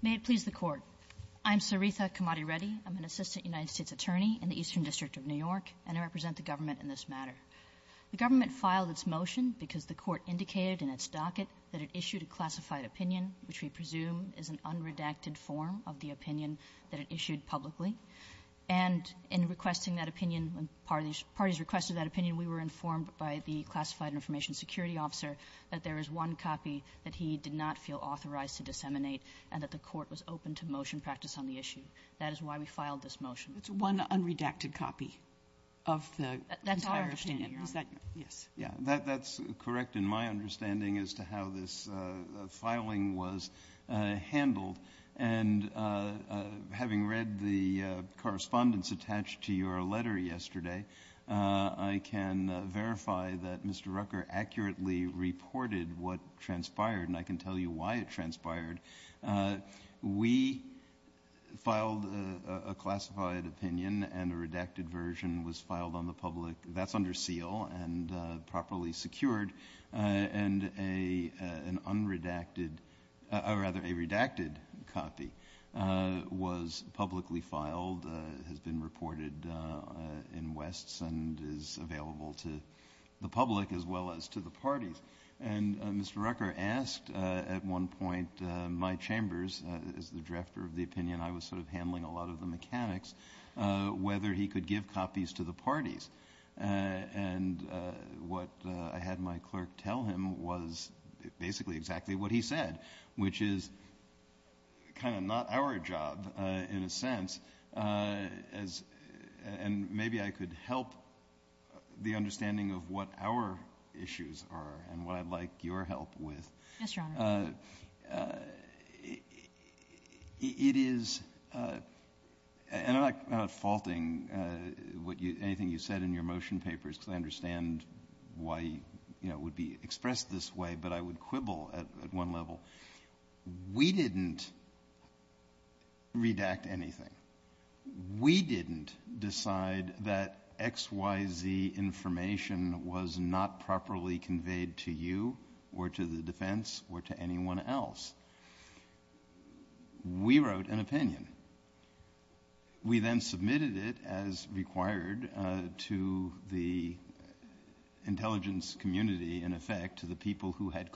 May it please the Court, I'm Sarita Kamadi Reddy, I'm an Assistant United States Attorney in the Eastern District of New York, and I represent the government in this matter. The government filed its motion because the Court indicated in its docket that it issued a classified opinion, which we presume is an unredacted form of the opinion that it issued publicly. And in requesting that opinion, when parties requested that opinion, we were informed by the classified information security officer that there is one copy that he did not feel authorized to disseminate and that the Court was open to motion practice on the issue. That is why we filed this motion. It's one unredacted copy of the entire opinion. That's our opinion. Is that correct? Yes. Yeah, that's correct in my understanding as to how this filing was handled. And having read the correspondence attached to your letter yesterday, I can verify that Mr. Rucker accurately reported what transpired, and I can tell you why it transpired. We filed a classified opinion and a redacted version was filed on the public. That's under seal and properly secured, and an unredacted, or rather a redacted copy was publicly filed, has been reported in Wests, and is available to the public as well as to the parties. That's correct. And Mr. Rucker asked, at one point, my chambers, as the director of the opinion, I was sort of handling a lot of the mechanics, whether he could give copies to the parties. And what I had my clerk tell him was basically exactly what he said, which is kind of not our job, in a sense. And maybe I could help the understanding of what our issues are, and what I'd like your help with. Yes, Your Honor. It is, and I'm not faulting anything you said in your motion papers, because I understand why it would be expressed this way, but I would quibble at one level. We didn't redact anything. We didn't decide that XYZ information was not properly conveyed to you, or to the defense, or to anyone else. We wrote an opinion. We then submitted it as required to the intelligence community, in effect, to the people who had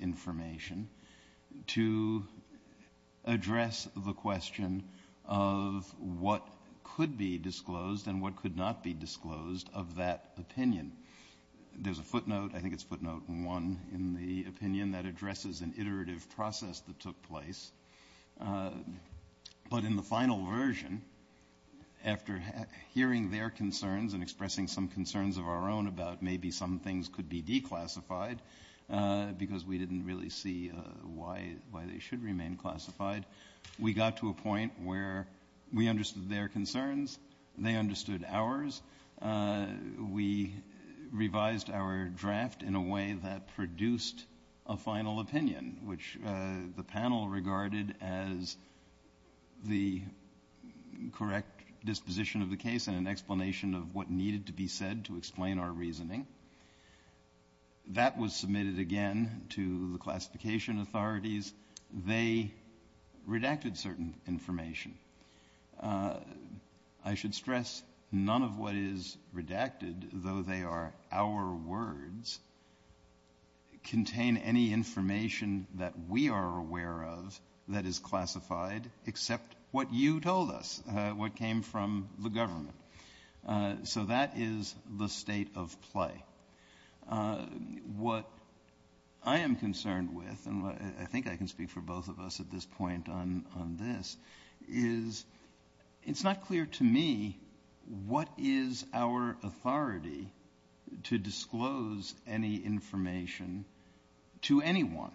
information, to address the question of what could be disclosed and what could not be disclosed of that opinion. There's a footnote, I think it's footnote one, in the opinion that addresses an iterative process that took place. But in the final version, after hearing their concerns and expressing some concerns of our own about maybe some things could be declassified, because we didn't really see why they should remain classified, we got to a point where we understood their concerns, they understood ours, we revised our draft in a way that produced a final opinion, which the panel regarded as the correct disposition of the case and an explanation of what needed to be said to their reasoning. That was submitted again to the classification authorities. They redacted certain information. I should stress, none of what is redacted, though they are our words, contain any information that we are aware of that is classified, except what you told us, what came from the government. So that is the state of play. What I am concerned with, and I think I can speak for both of us at this point on this, is it's not clear to me what is our authority to disclose any information to anyone.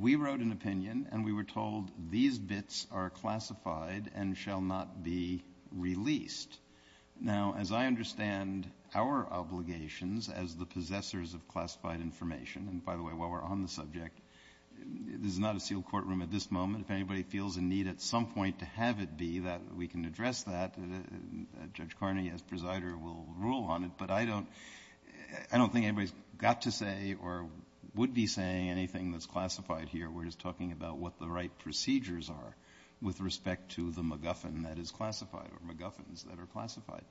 We wrote an opinion and we were told these bits are classified and shall not be released. Now as I understand our obligations as the possessors of classified information, and by the way, while we are on the subject, this is not a sealed courtroom at this moment. If anybody feels a need at some point to have it be that we can address that, Judge Carney as presider will rule on it, but I don't think anybody's got to say or would be saying anything that's classified here. We're just talking about what the right procedures are with respect to the MacGuffin that is classified or MacGuffins that are classified.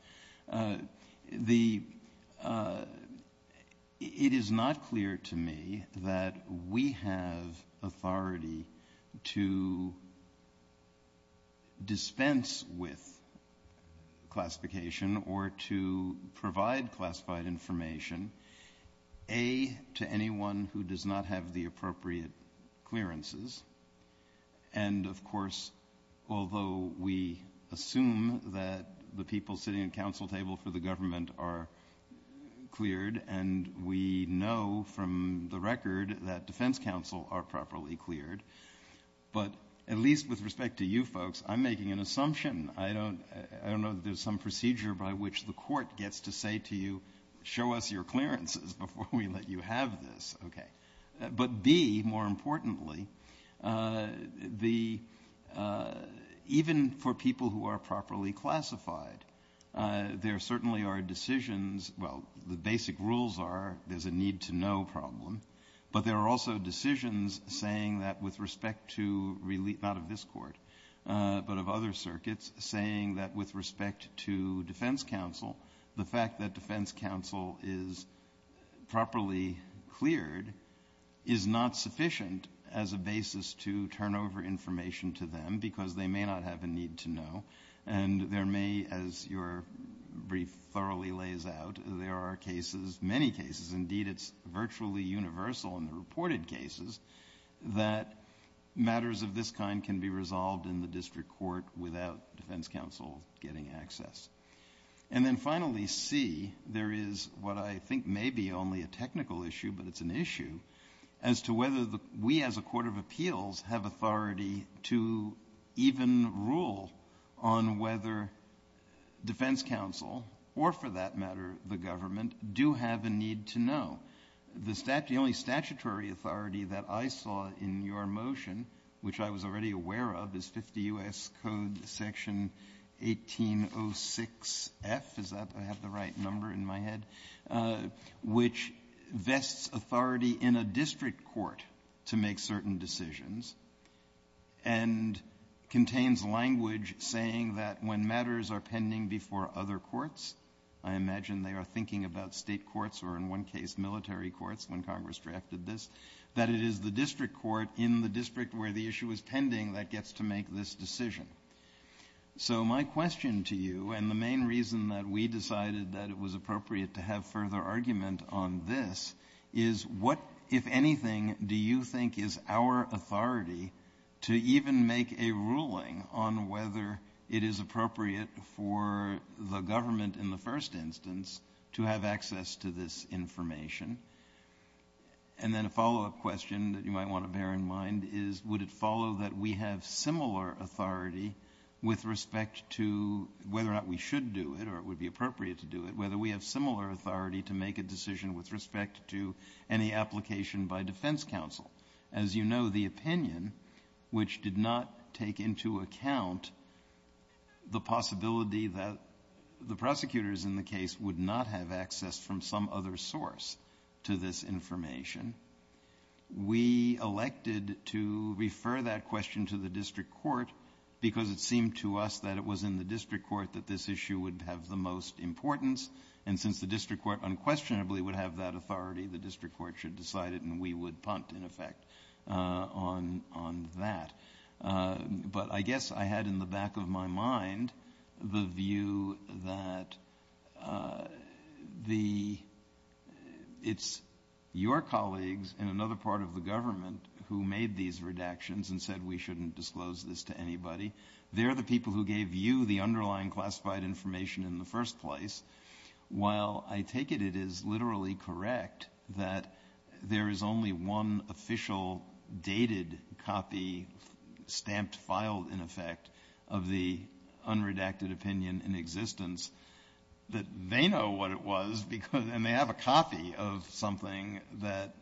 It is not clear to me that we have authority to dispense with classification or to provide classified information, A, to anyone who does not have the appropriate clearances, and of course, we know from the record that defense counsel are properly cleared, but at least with respect to you folks, I'm making an assumption. I don't know that there's some procedure by which the court gets to say to you, show us your clearances before we let you have this. Okay. But B, more importantly, even for people who are properly classified, there certainly are decisions, well, the basic rules are there's a need-to-know problem, but there are also decisions saying that with respect to, not of this court, but of other circuits, saying that with respect to defense counsel, the fact that defense counsel is properly cleared is not sufficient as a basis to turn over information to them, because they may not have a need-to-know, and there may, as your brief thoroughly lays out, there are cases, many cases, indeed, it's virtually universal in the reported cases, that matters of this kind can be resolved in the district court without defense counsel getting access. And then finally, C, there is what I think may be only a technical issue, but it's an issue, as to whether we as a court of appeals have authority to even rule on whether defense counsel, or for that matter, the government, do have a need-to-know. The only statutory authority that I saw in your motion, which I was already aware of, is 50 U.S. Code section 1806F, is that, I have the right number in my head, which vests authority in a district court to make certain decisions, and contains language saying that when matters are pending before other courts, I imagine they are thinking about state courts, or in one case, military courts, when Congress drafted this, that it is the district court in the district where the issue is pending that gets to make this decision. So my question to you, and the main reason that we decided that it was appropriate to have further argument on this, is what, if anything, do you think is our authority to even make a ruling on whether it is appropriate for the government, in the first instance, to have access to this information? And then a follow-up question that you might want to bear in mind is, would it follow that we have similar authority with respect to whether or not we should do it, or it would be appropriate to do it, whether we have similar authority to make a decision with respect to any application by defense counsel? As you know, the opinion, which did not take into account the possibility that the prosecutors in the case would not have access from some other source to this information, we elected to refer that question to the district court because it seemed to us that it was in the district court that this issue would have the most importance, and since the district court unquestionably would have that authority, the district court should decide it, and we would punt, in effect, on that. But I guess I had in the back of my mind the view that it's your colleagues and another part of the government who made these redactions and said we shouldn't disclose this to anybody. They're the people who gave you the underlying classified information in the first place. While I take it it is literally correct that there is only one official dated copy stamped, filed, in effect, of the unredacted opinion in existence, that they know what it was, and they have a copy of something that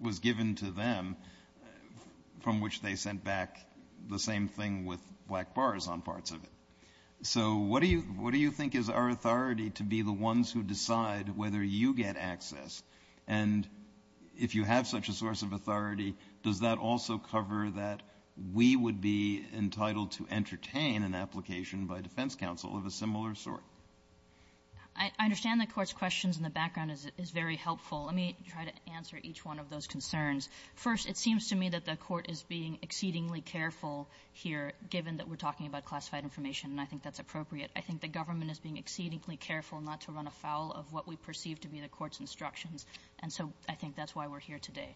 was given to them from which they sent back the to be the ones who decide whether you get access. And if you have such a source of authority, does that also cover that we would be entitled to entertain an application by defense counsel of a similar sort? I understand the Court's questions in the background is very helpful. Let me try to answer each one of those concerns. First, it seems to me that the Court is being exceedingly careful here, given that we're talking about classified information, and I think that's appropriate. I think the government is being exceedingly careful not to run afoul of what we perceive to be the Court's instructions. And so I think that's why we're here today.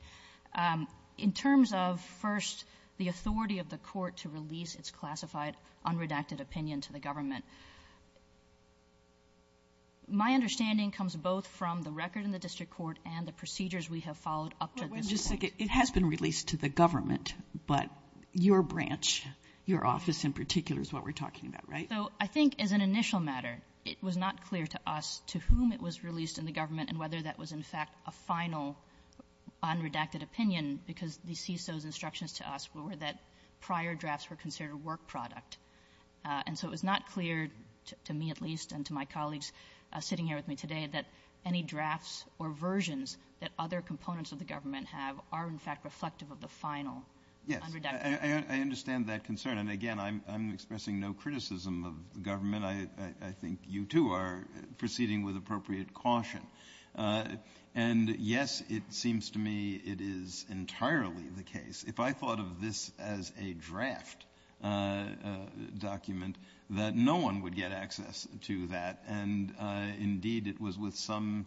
In terms of, first, the authority of the Court to release its classified unredacted opinion to the government, my understanding comes both from the record in the district court and the procedures we have followed up to this point. But wait just a second. It has been released to the government, but your branch, your office in particular, is what we're talking about, right? So I think as an initial matter, it was not clear to us to whom it was released in the government and whether that was, in fact, a final unredacted opinion, because the CISO's instructions to us were that prior drafts were considered a work product. And so it was not clear, to me at least and to my colleagues sitting here with me today, that any drafts or versions that other components of the government have are, in fact, reflective of the final unredacted opinion. Yes. I understand that concern. And again, I'm expressing no criticism of the government. I think you, too, are proceeding with appropriate caution. And yes, it seems to me it is entirely the case, if I thought of this as a draft document, that no one would get access to that. And indeed, it was with some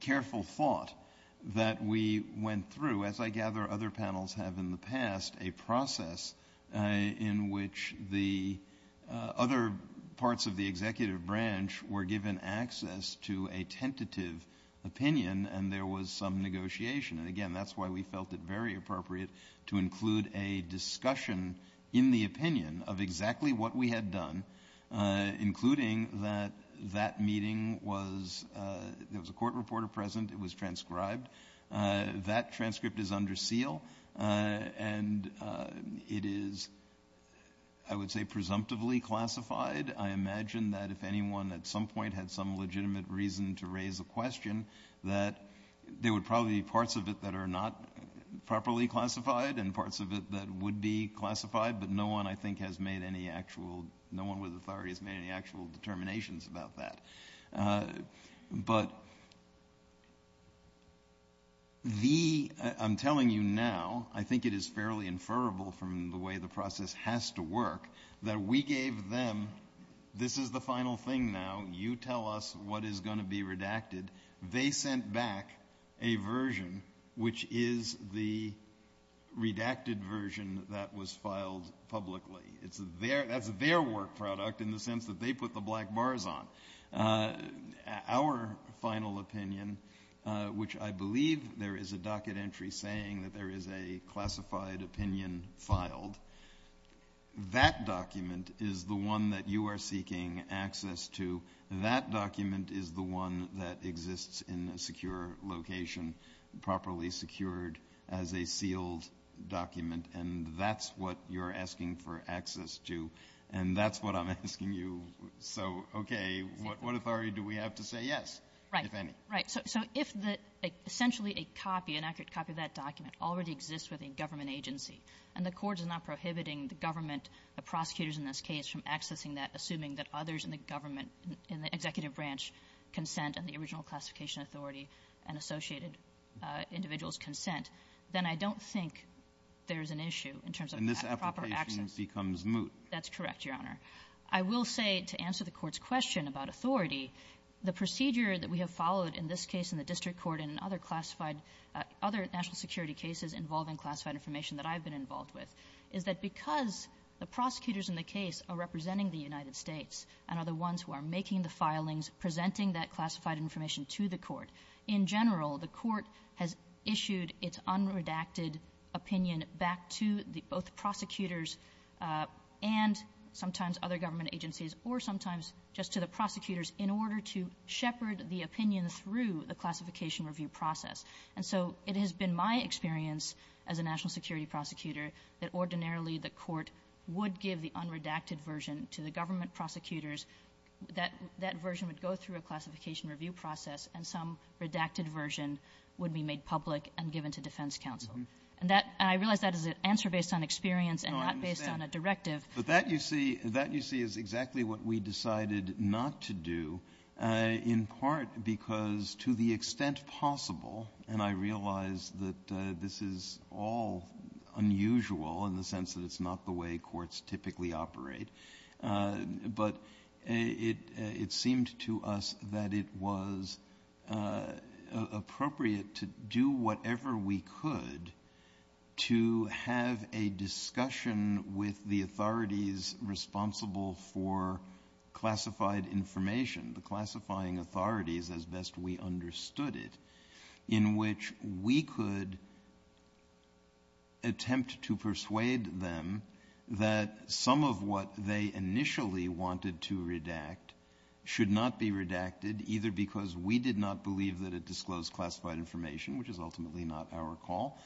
careful thought that we went through, as I gather other panels have in the past, a process in which the other parts of the executive branch were given access to a tentative opinion, and there was some negotiation. And again, that's why we felt it very appropriate to include a discussion in the opinion of exactly what we had done, including that that meeting was, there was a court reporter present, it was transcribed. That transcript is under seal, and it is, I would say, presumptively classified. I imagine that if anyone at some point had some legitimate reason to raise a question, that there would probably be parts of it that are not properly classified, and parts of it that would be classified. But no one, I think, has made any actual, no one with authority has made any actual determinations about that. But the, I'm telling you now, I think it is fairly inferable from the way the process has to work, that we gave them, this is the final thing now, you tell us what is going to be redacted. They sent back a version which is the redacted version that was filed publicly. It's their, that's their work product in the sense that they put the black bars on. Our final opinion, which I believe there is a docket entry saying that there is a classified opinion filed. That document is the one that you are seeking access to. That document is the one that exists in a secure location, properly secured as a sealed document. And that's what you're asking for access to. And that's what I'm asking you. So, okay, what authority do we have to say yes, if any? Right, so if essentially a copy, an accurate copy of that document already exists within government agency, and the court is not prohibiting the government, the prosecutors in this case, from accessing that, assuming that others in the government, in the executive branch consent, and the original classification authority, and associated individuals consent, then I don't think there's an issue in terms of proper access. And this application becomes moot. That's correct, Your Honor. I will say, to answer the court's question about authority, the procedure that we have followed in this case, in the district court, and in other classified, other national security cases involving classified information that I've been involved with, is that because the prosecutors in the case are representing the United States, and are the ones who are making the filings, presenting that classified information to the court, in general, the court has issued its unredacted opinion back to the, both prosecutors and sometimes other government agencies, or sometimes just to the prosecutors, in order to shepherd the opinion through the classification review process. And so, it has been my experience as a national security prosecutor, that ordinarily the court would give the unredacted version to the government prosecutors. That version would go through a classification review process, and some redacted version would be made public and given to defense counsel. And that, I realize that is an answer based on experience and not based on a directive. But that, you see, that, you see, is exactly what we decided not to do, in part because, to the extent possible, and I realize that this is all unusual in the sense that it's not the way courts typically operate. But it seemed to us that it was appropriate to do whatever we could to make sure that we were prepared to have a discussion with the authorities responsible for classified information, the classifying authorities as best we understood it. In which we could attempt to persuade them that some of what they initially wanted to redact should not be redacted, either because we did not believe that it disclosed classified information, which is ultimately not our call,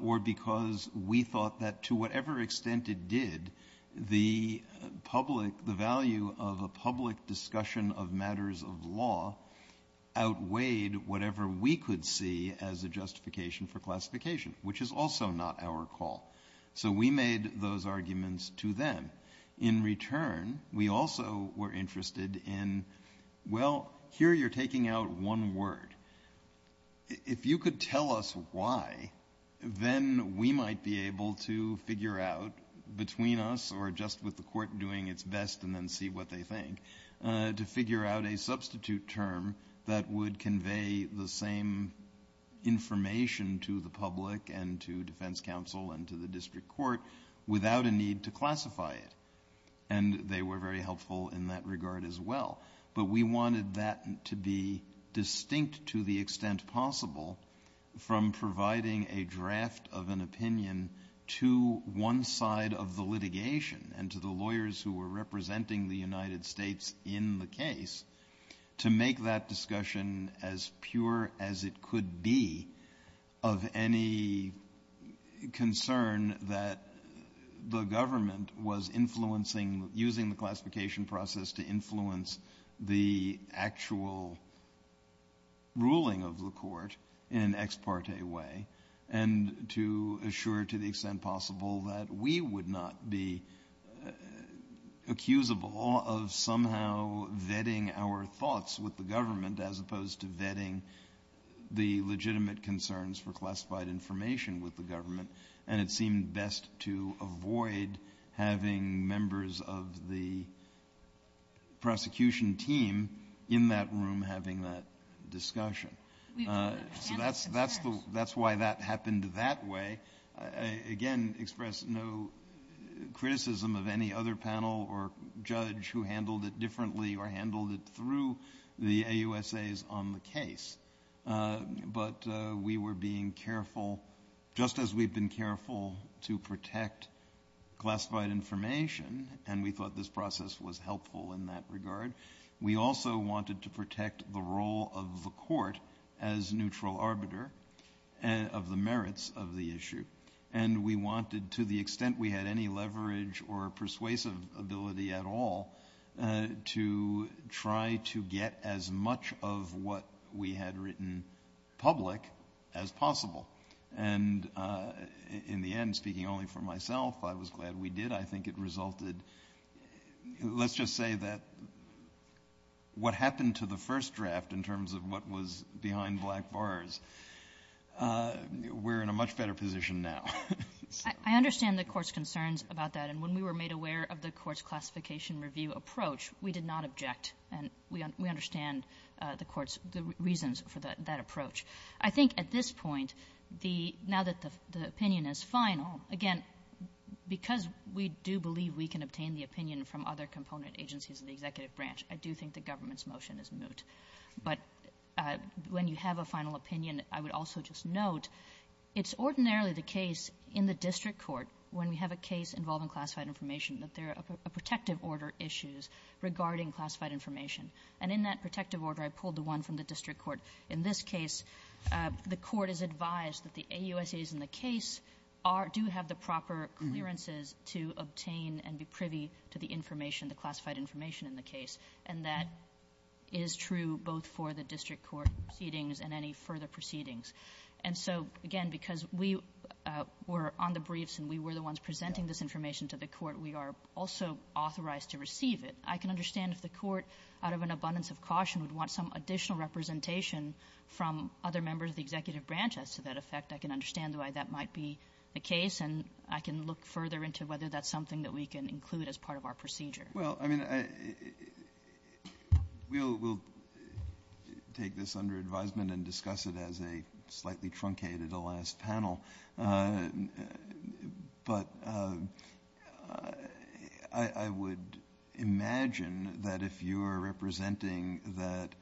or because we thought that to whatever extent it did, the public, the value of a public discussion of matters of law outweighed whatever we could see as a justification for classification, which is also not our call. So we made those arguments to them. In return, we also were interested in, well, here you're taking out one word. If you could tell us why, then we might be able to figure out, between us or just with the court doing its best and then see what they think, to figure out a substitute term that would convey the same information to the public and to defense counsel and to the district court without a need to classify it. And they were very helpful in that regard as well. But we wanted that to be distinct to the extent possible from providing a draft of an opinion to one side of the litigation and to the lawyers who were representing the United States in the case, to make that discussion as pure as it could be of any concern that the government was influencing, using the classification process to influence the actual ruling of the court in an ex parte way, and to assure to the extent possible that we would not be accusable of somehow vetting our thoughts with the government as opposed to vetting the legitimate concerns for classified information with the government. And it seemed best to avoid having members of the prosecution team in that room having that discussion. So that's why that happened that way. I again express no criticism of any other panel or judge who handled it differently or handled it through the AUSAs on the case. But we were being careful, just as we've been careful to protect classified information, and we thought this process was helpful in that regard. We also wanted to protect the role of the court as neutral arbiter of the merits of the issue. And we wanted, to the extent we had any leverage or persuasive ability at all, to try to get as much of what we had written public as possible. And in the end, speaking only for myself, I was glad we did. I think it resulted, let's just say that what happened to the first draft, in terms of what was behind black bars, we're in a much better position now. So- I understand the court's concerns about that. And when we were made aware of the court's classification review approach, we did not object. And we understand the court's reasons for that approach. I think at this point, now that the opinion is final, again, because we do believe we can obtain the opinion from other component agencies in the executive branch, I do think the government's motion is moot. But when you have a final opinion, I would also just note, it's ordinarily the case in the district court, when we have a case involving classified information, that there are protective order issues regarding classified information. And in that protective order, I pulled the one from the district court. In this case, the court is advised that the AUSAs in the case do have the proper clearances to obtain and be And that is true both for the district court proceedings and any further proceedings. And so, again, because we were on the briefs and we were the ones presenting this information to the court, we are also authorized to receive it. I can understand if the court, out of an abundance of caution, would want some additional representation from other members of the executive branch as to that effect. I can understand why that might be the case. And I can look further into whether that's something that we can include as part of our procedure. Well, I mean, we'll take this under advisement and discuss it as a slightly truncated last panel. But I would imagine that if you are representing that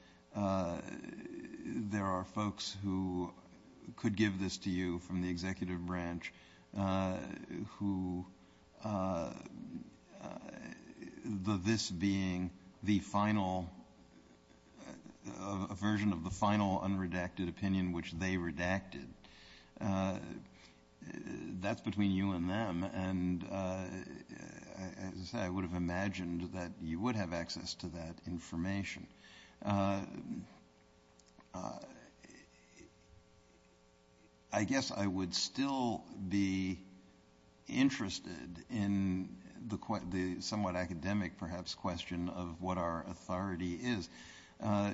there are folks who could give this to you from the executive branch, who, the this being the final, a version of the final unredacted opinion which they redacted. That's between you and them. And as I said, I would have imagined that you would have access to that information. I guess I would still be interested in the somewhat academic, perhaps, question of what our authority is.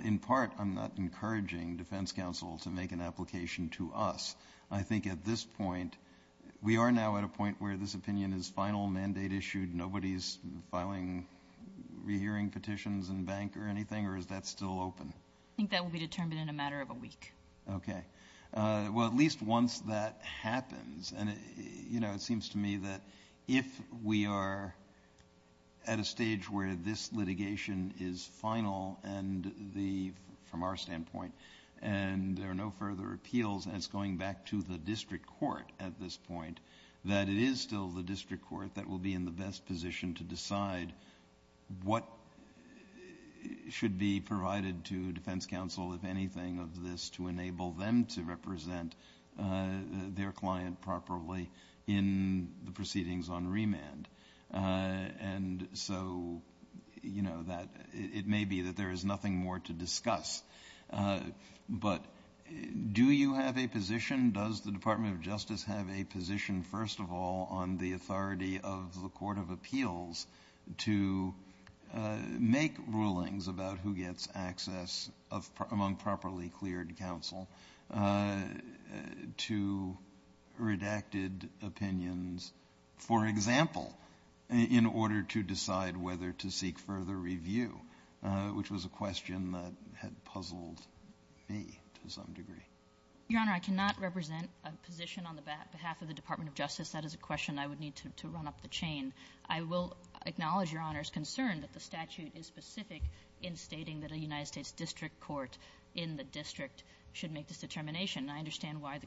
In part, I'm not encouraging defense counsel to make an application to us. I think at this point, we are now at a point where this opinion is final mandate issued. Nobody's filing, re-hearing petitions in bank or anything, or is that still open? I think that will be determined in a matter of a week. Okay, well, at least once that happens, and it seems to me that if we are at a stage where this litigation is final, and from our standpoint, and there are no further appeals, and it's going back to the district court at this point, that it is still the district court that will be in the best position to decide what should be provided to defense counsel, if anything of this, to enable them to represent their client properly in the proceedings on remand. And so, it may be that there is nothing more to discuss, but do you have a position? Does the Department of Justice have a position, first of all, on the authority of the Court of Appeals to make rulings about who gets access among properly cleared counsel to redacted opinions, for example, in order to decide whether to seek further review, which was a question that had puzzled me to some degree. Your Honor, I cannot represent a position on the behalf of the Department of Justice. That is a question I would need to run up the chain. I will acknowledge Your Honor's concern that the statute is specific in stating that a United States district court in the district should make this determination, and I understand why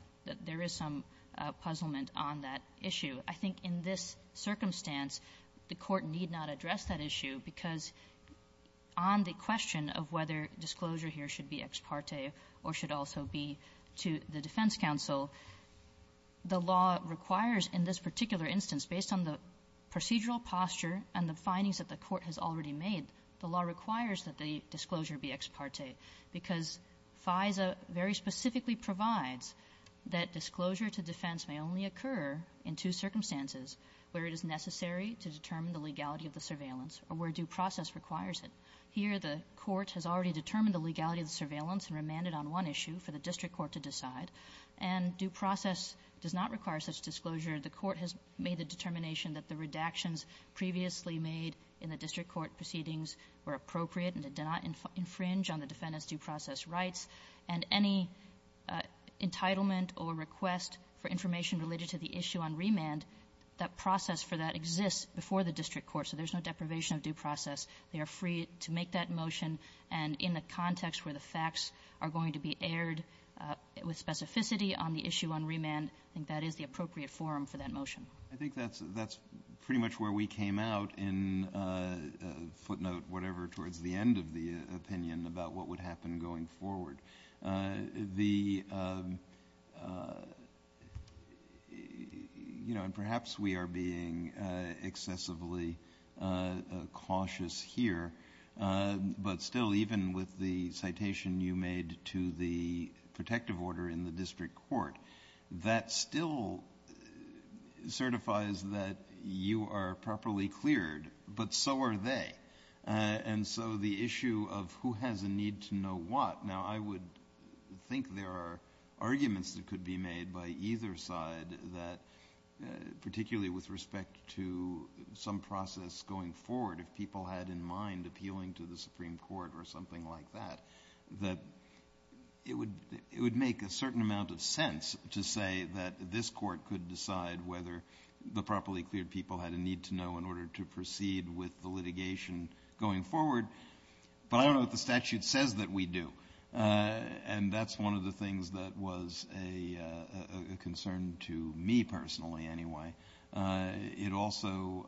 there is some puzzlement on that issue. I think in this circumstance, the court need not address that issue, because on the question of whether disclosure here should be ex parte or should also be to the defense counsel, the law requires in this particular instance, based on the procedural posture and the findings that the court has already made, the law requires that the disclosure be ex parte. Because FISA very specifically provides that disclosure to defense may only occur in two circumstances, where it is necessary to determine the legality of the surveillance or where due process requires it. Here, the court has already determined the legality of the surveillance and remanded on one issue for the district court to decide. And due process does not require such disclosure. The court has made the determination that the redactions previously made in the district court proceedings were appropriate and did not infringe on the defendant's due process rights. And any entitlement or request for information related to the issue on remand, that process for that exists before the district court, so there's no deprivation of due process. They are free to make that motion, and in the context where the facts are going to be aired with specificity on the issue on remand, I think that is the appropriate forum for that motion. I think that's pretty much where we came out in footnote, whatever, towards the end of the opinion about what would happen going forward. And perhaps we are being excessively cautious here. But still, even with the citation you made to the protective order in the district court, that still certifies that you are properly cleared, but so are they. And so the issue of who has a need to know what. Now, I would think there are arguments that could be made by either side, that particularly with respect to some process going forward, if people had in mind appealing to the Supreme Court or something like that. That it would make a certain amount of sense to say that this court could decide whether the properly cleared people had a need to know in order to proceed with the litigation going forward. But I don't know what the statute says that we do. And that's one of the things that was a concern to me personally anyway. It also,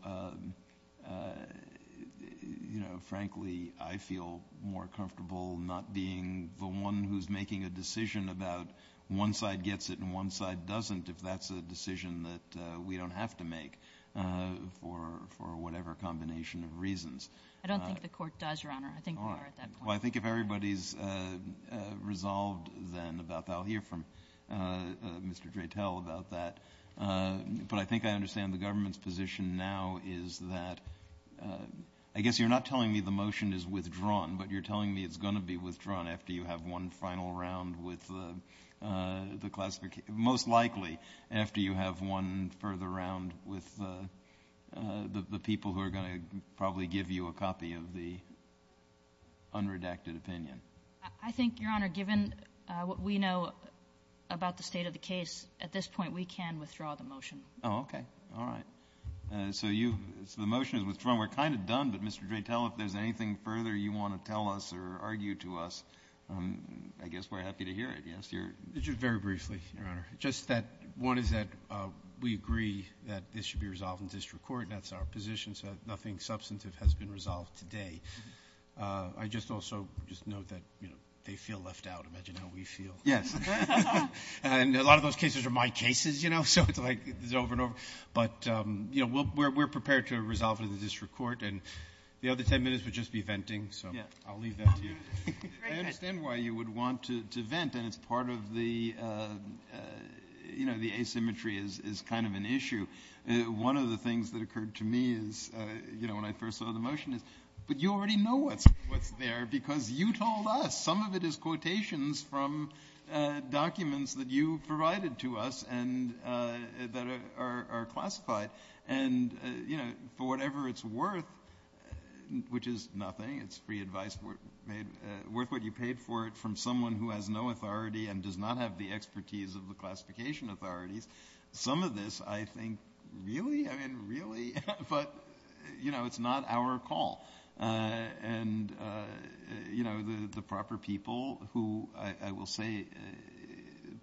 frankly, I feel more comfortable not being the one who's making a decision about one side gets it and one side doesn't if that's a decision that we don't have to make for whatever combination of reasons. I don't think the court does, Your Honor. I think we are at that point. Well, I think if everybody's resolved then about that, I'll hear from Mr. Dratel about that. But I think I understand the government's position now is that, I guess you're not telling me the motion is withdrawn, but you're telling me it's going to be withdrawn after you have one final round with the classification, most likely, after you have one further round with the people who are going to probably give you a copy of the unredacted opinion. I think, Your Honor, given what we know about the state of the case, at this point, we can withdraw the motion. Oh, okay. All right. So you, so the motion is withdrawn. We're kind of done, but Mr. Dratel, if there's anything further you want to tell us or argue to us, I guess we're happy to hear it. Yes, you're? Just very briefly, Your Honor. Just that one is that we agree that this should be resolved in district court and that's our position, so nothing substantive has been resolved today. I just also just note that, you know, they feel left out. Imagine how we feel. Yes. And a lot of those cases are my cases, you know, so it's like it's over and over. But, you know, we're prepared to resolve it in the district court and the other ten minutes would just be venting, so I'll leave that to you. I understand why you would want to vent and it's part of the, you know, the asymmetry is kind of an issue. One of the things that occurred to me is, you know, when I first saw the motion is, but you already know what's there because you told us some of it is quotations from documents that you provided to us and that are classified. And, you know, for whatever it's worth, which is nothing, it's free advice, worth what you paid for it from someone who has no authority and does not have the expertise of the classification authorities, some of this I think, really? I mean, really? But, you know, it's not our call. And, you know, the proper people who, I will say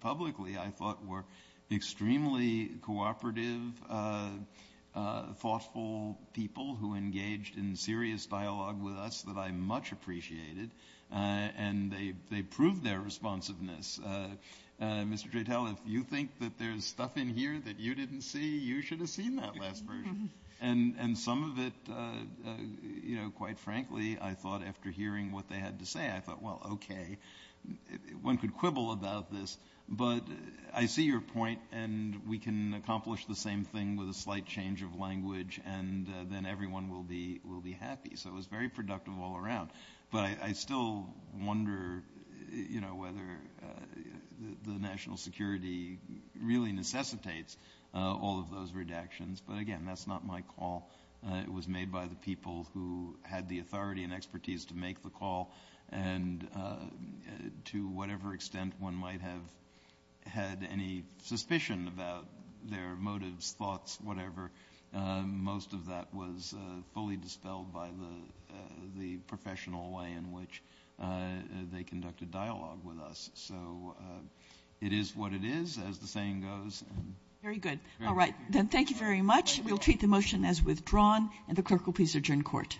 publicly, I thought were extremely cooperative, thoughtful people who engaged in serious dialogue with us that I much appreciated and they proved their responsiveness. Mr. Jatel, if you think that there's stuff in here that you didn't see, you should have seen that last version. And some of it, you know, quite frankly, I thought after hearing what they had to say, I thought, well, okay. One could quibble about this, but I see your point and we can accomplish the same thing with a slight change of language and then everyone will be happy. So it was very productive all around. But I still wonder, you know, whether the national security really necessitates all of those redactions. But again, that's not my call. It was made by the people who had the authority and expertise to make the call and to whatever extent one might have had any suspicion about their motives, thoughts, whatever, most of that was fully dispelled by the professional way in which they conducted dialogue with us. So it is what it is, as the saying goes. Very good. All right, then thank you very much. We'll treat the motion as withdrawn and the clerk will please adjourn court.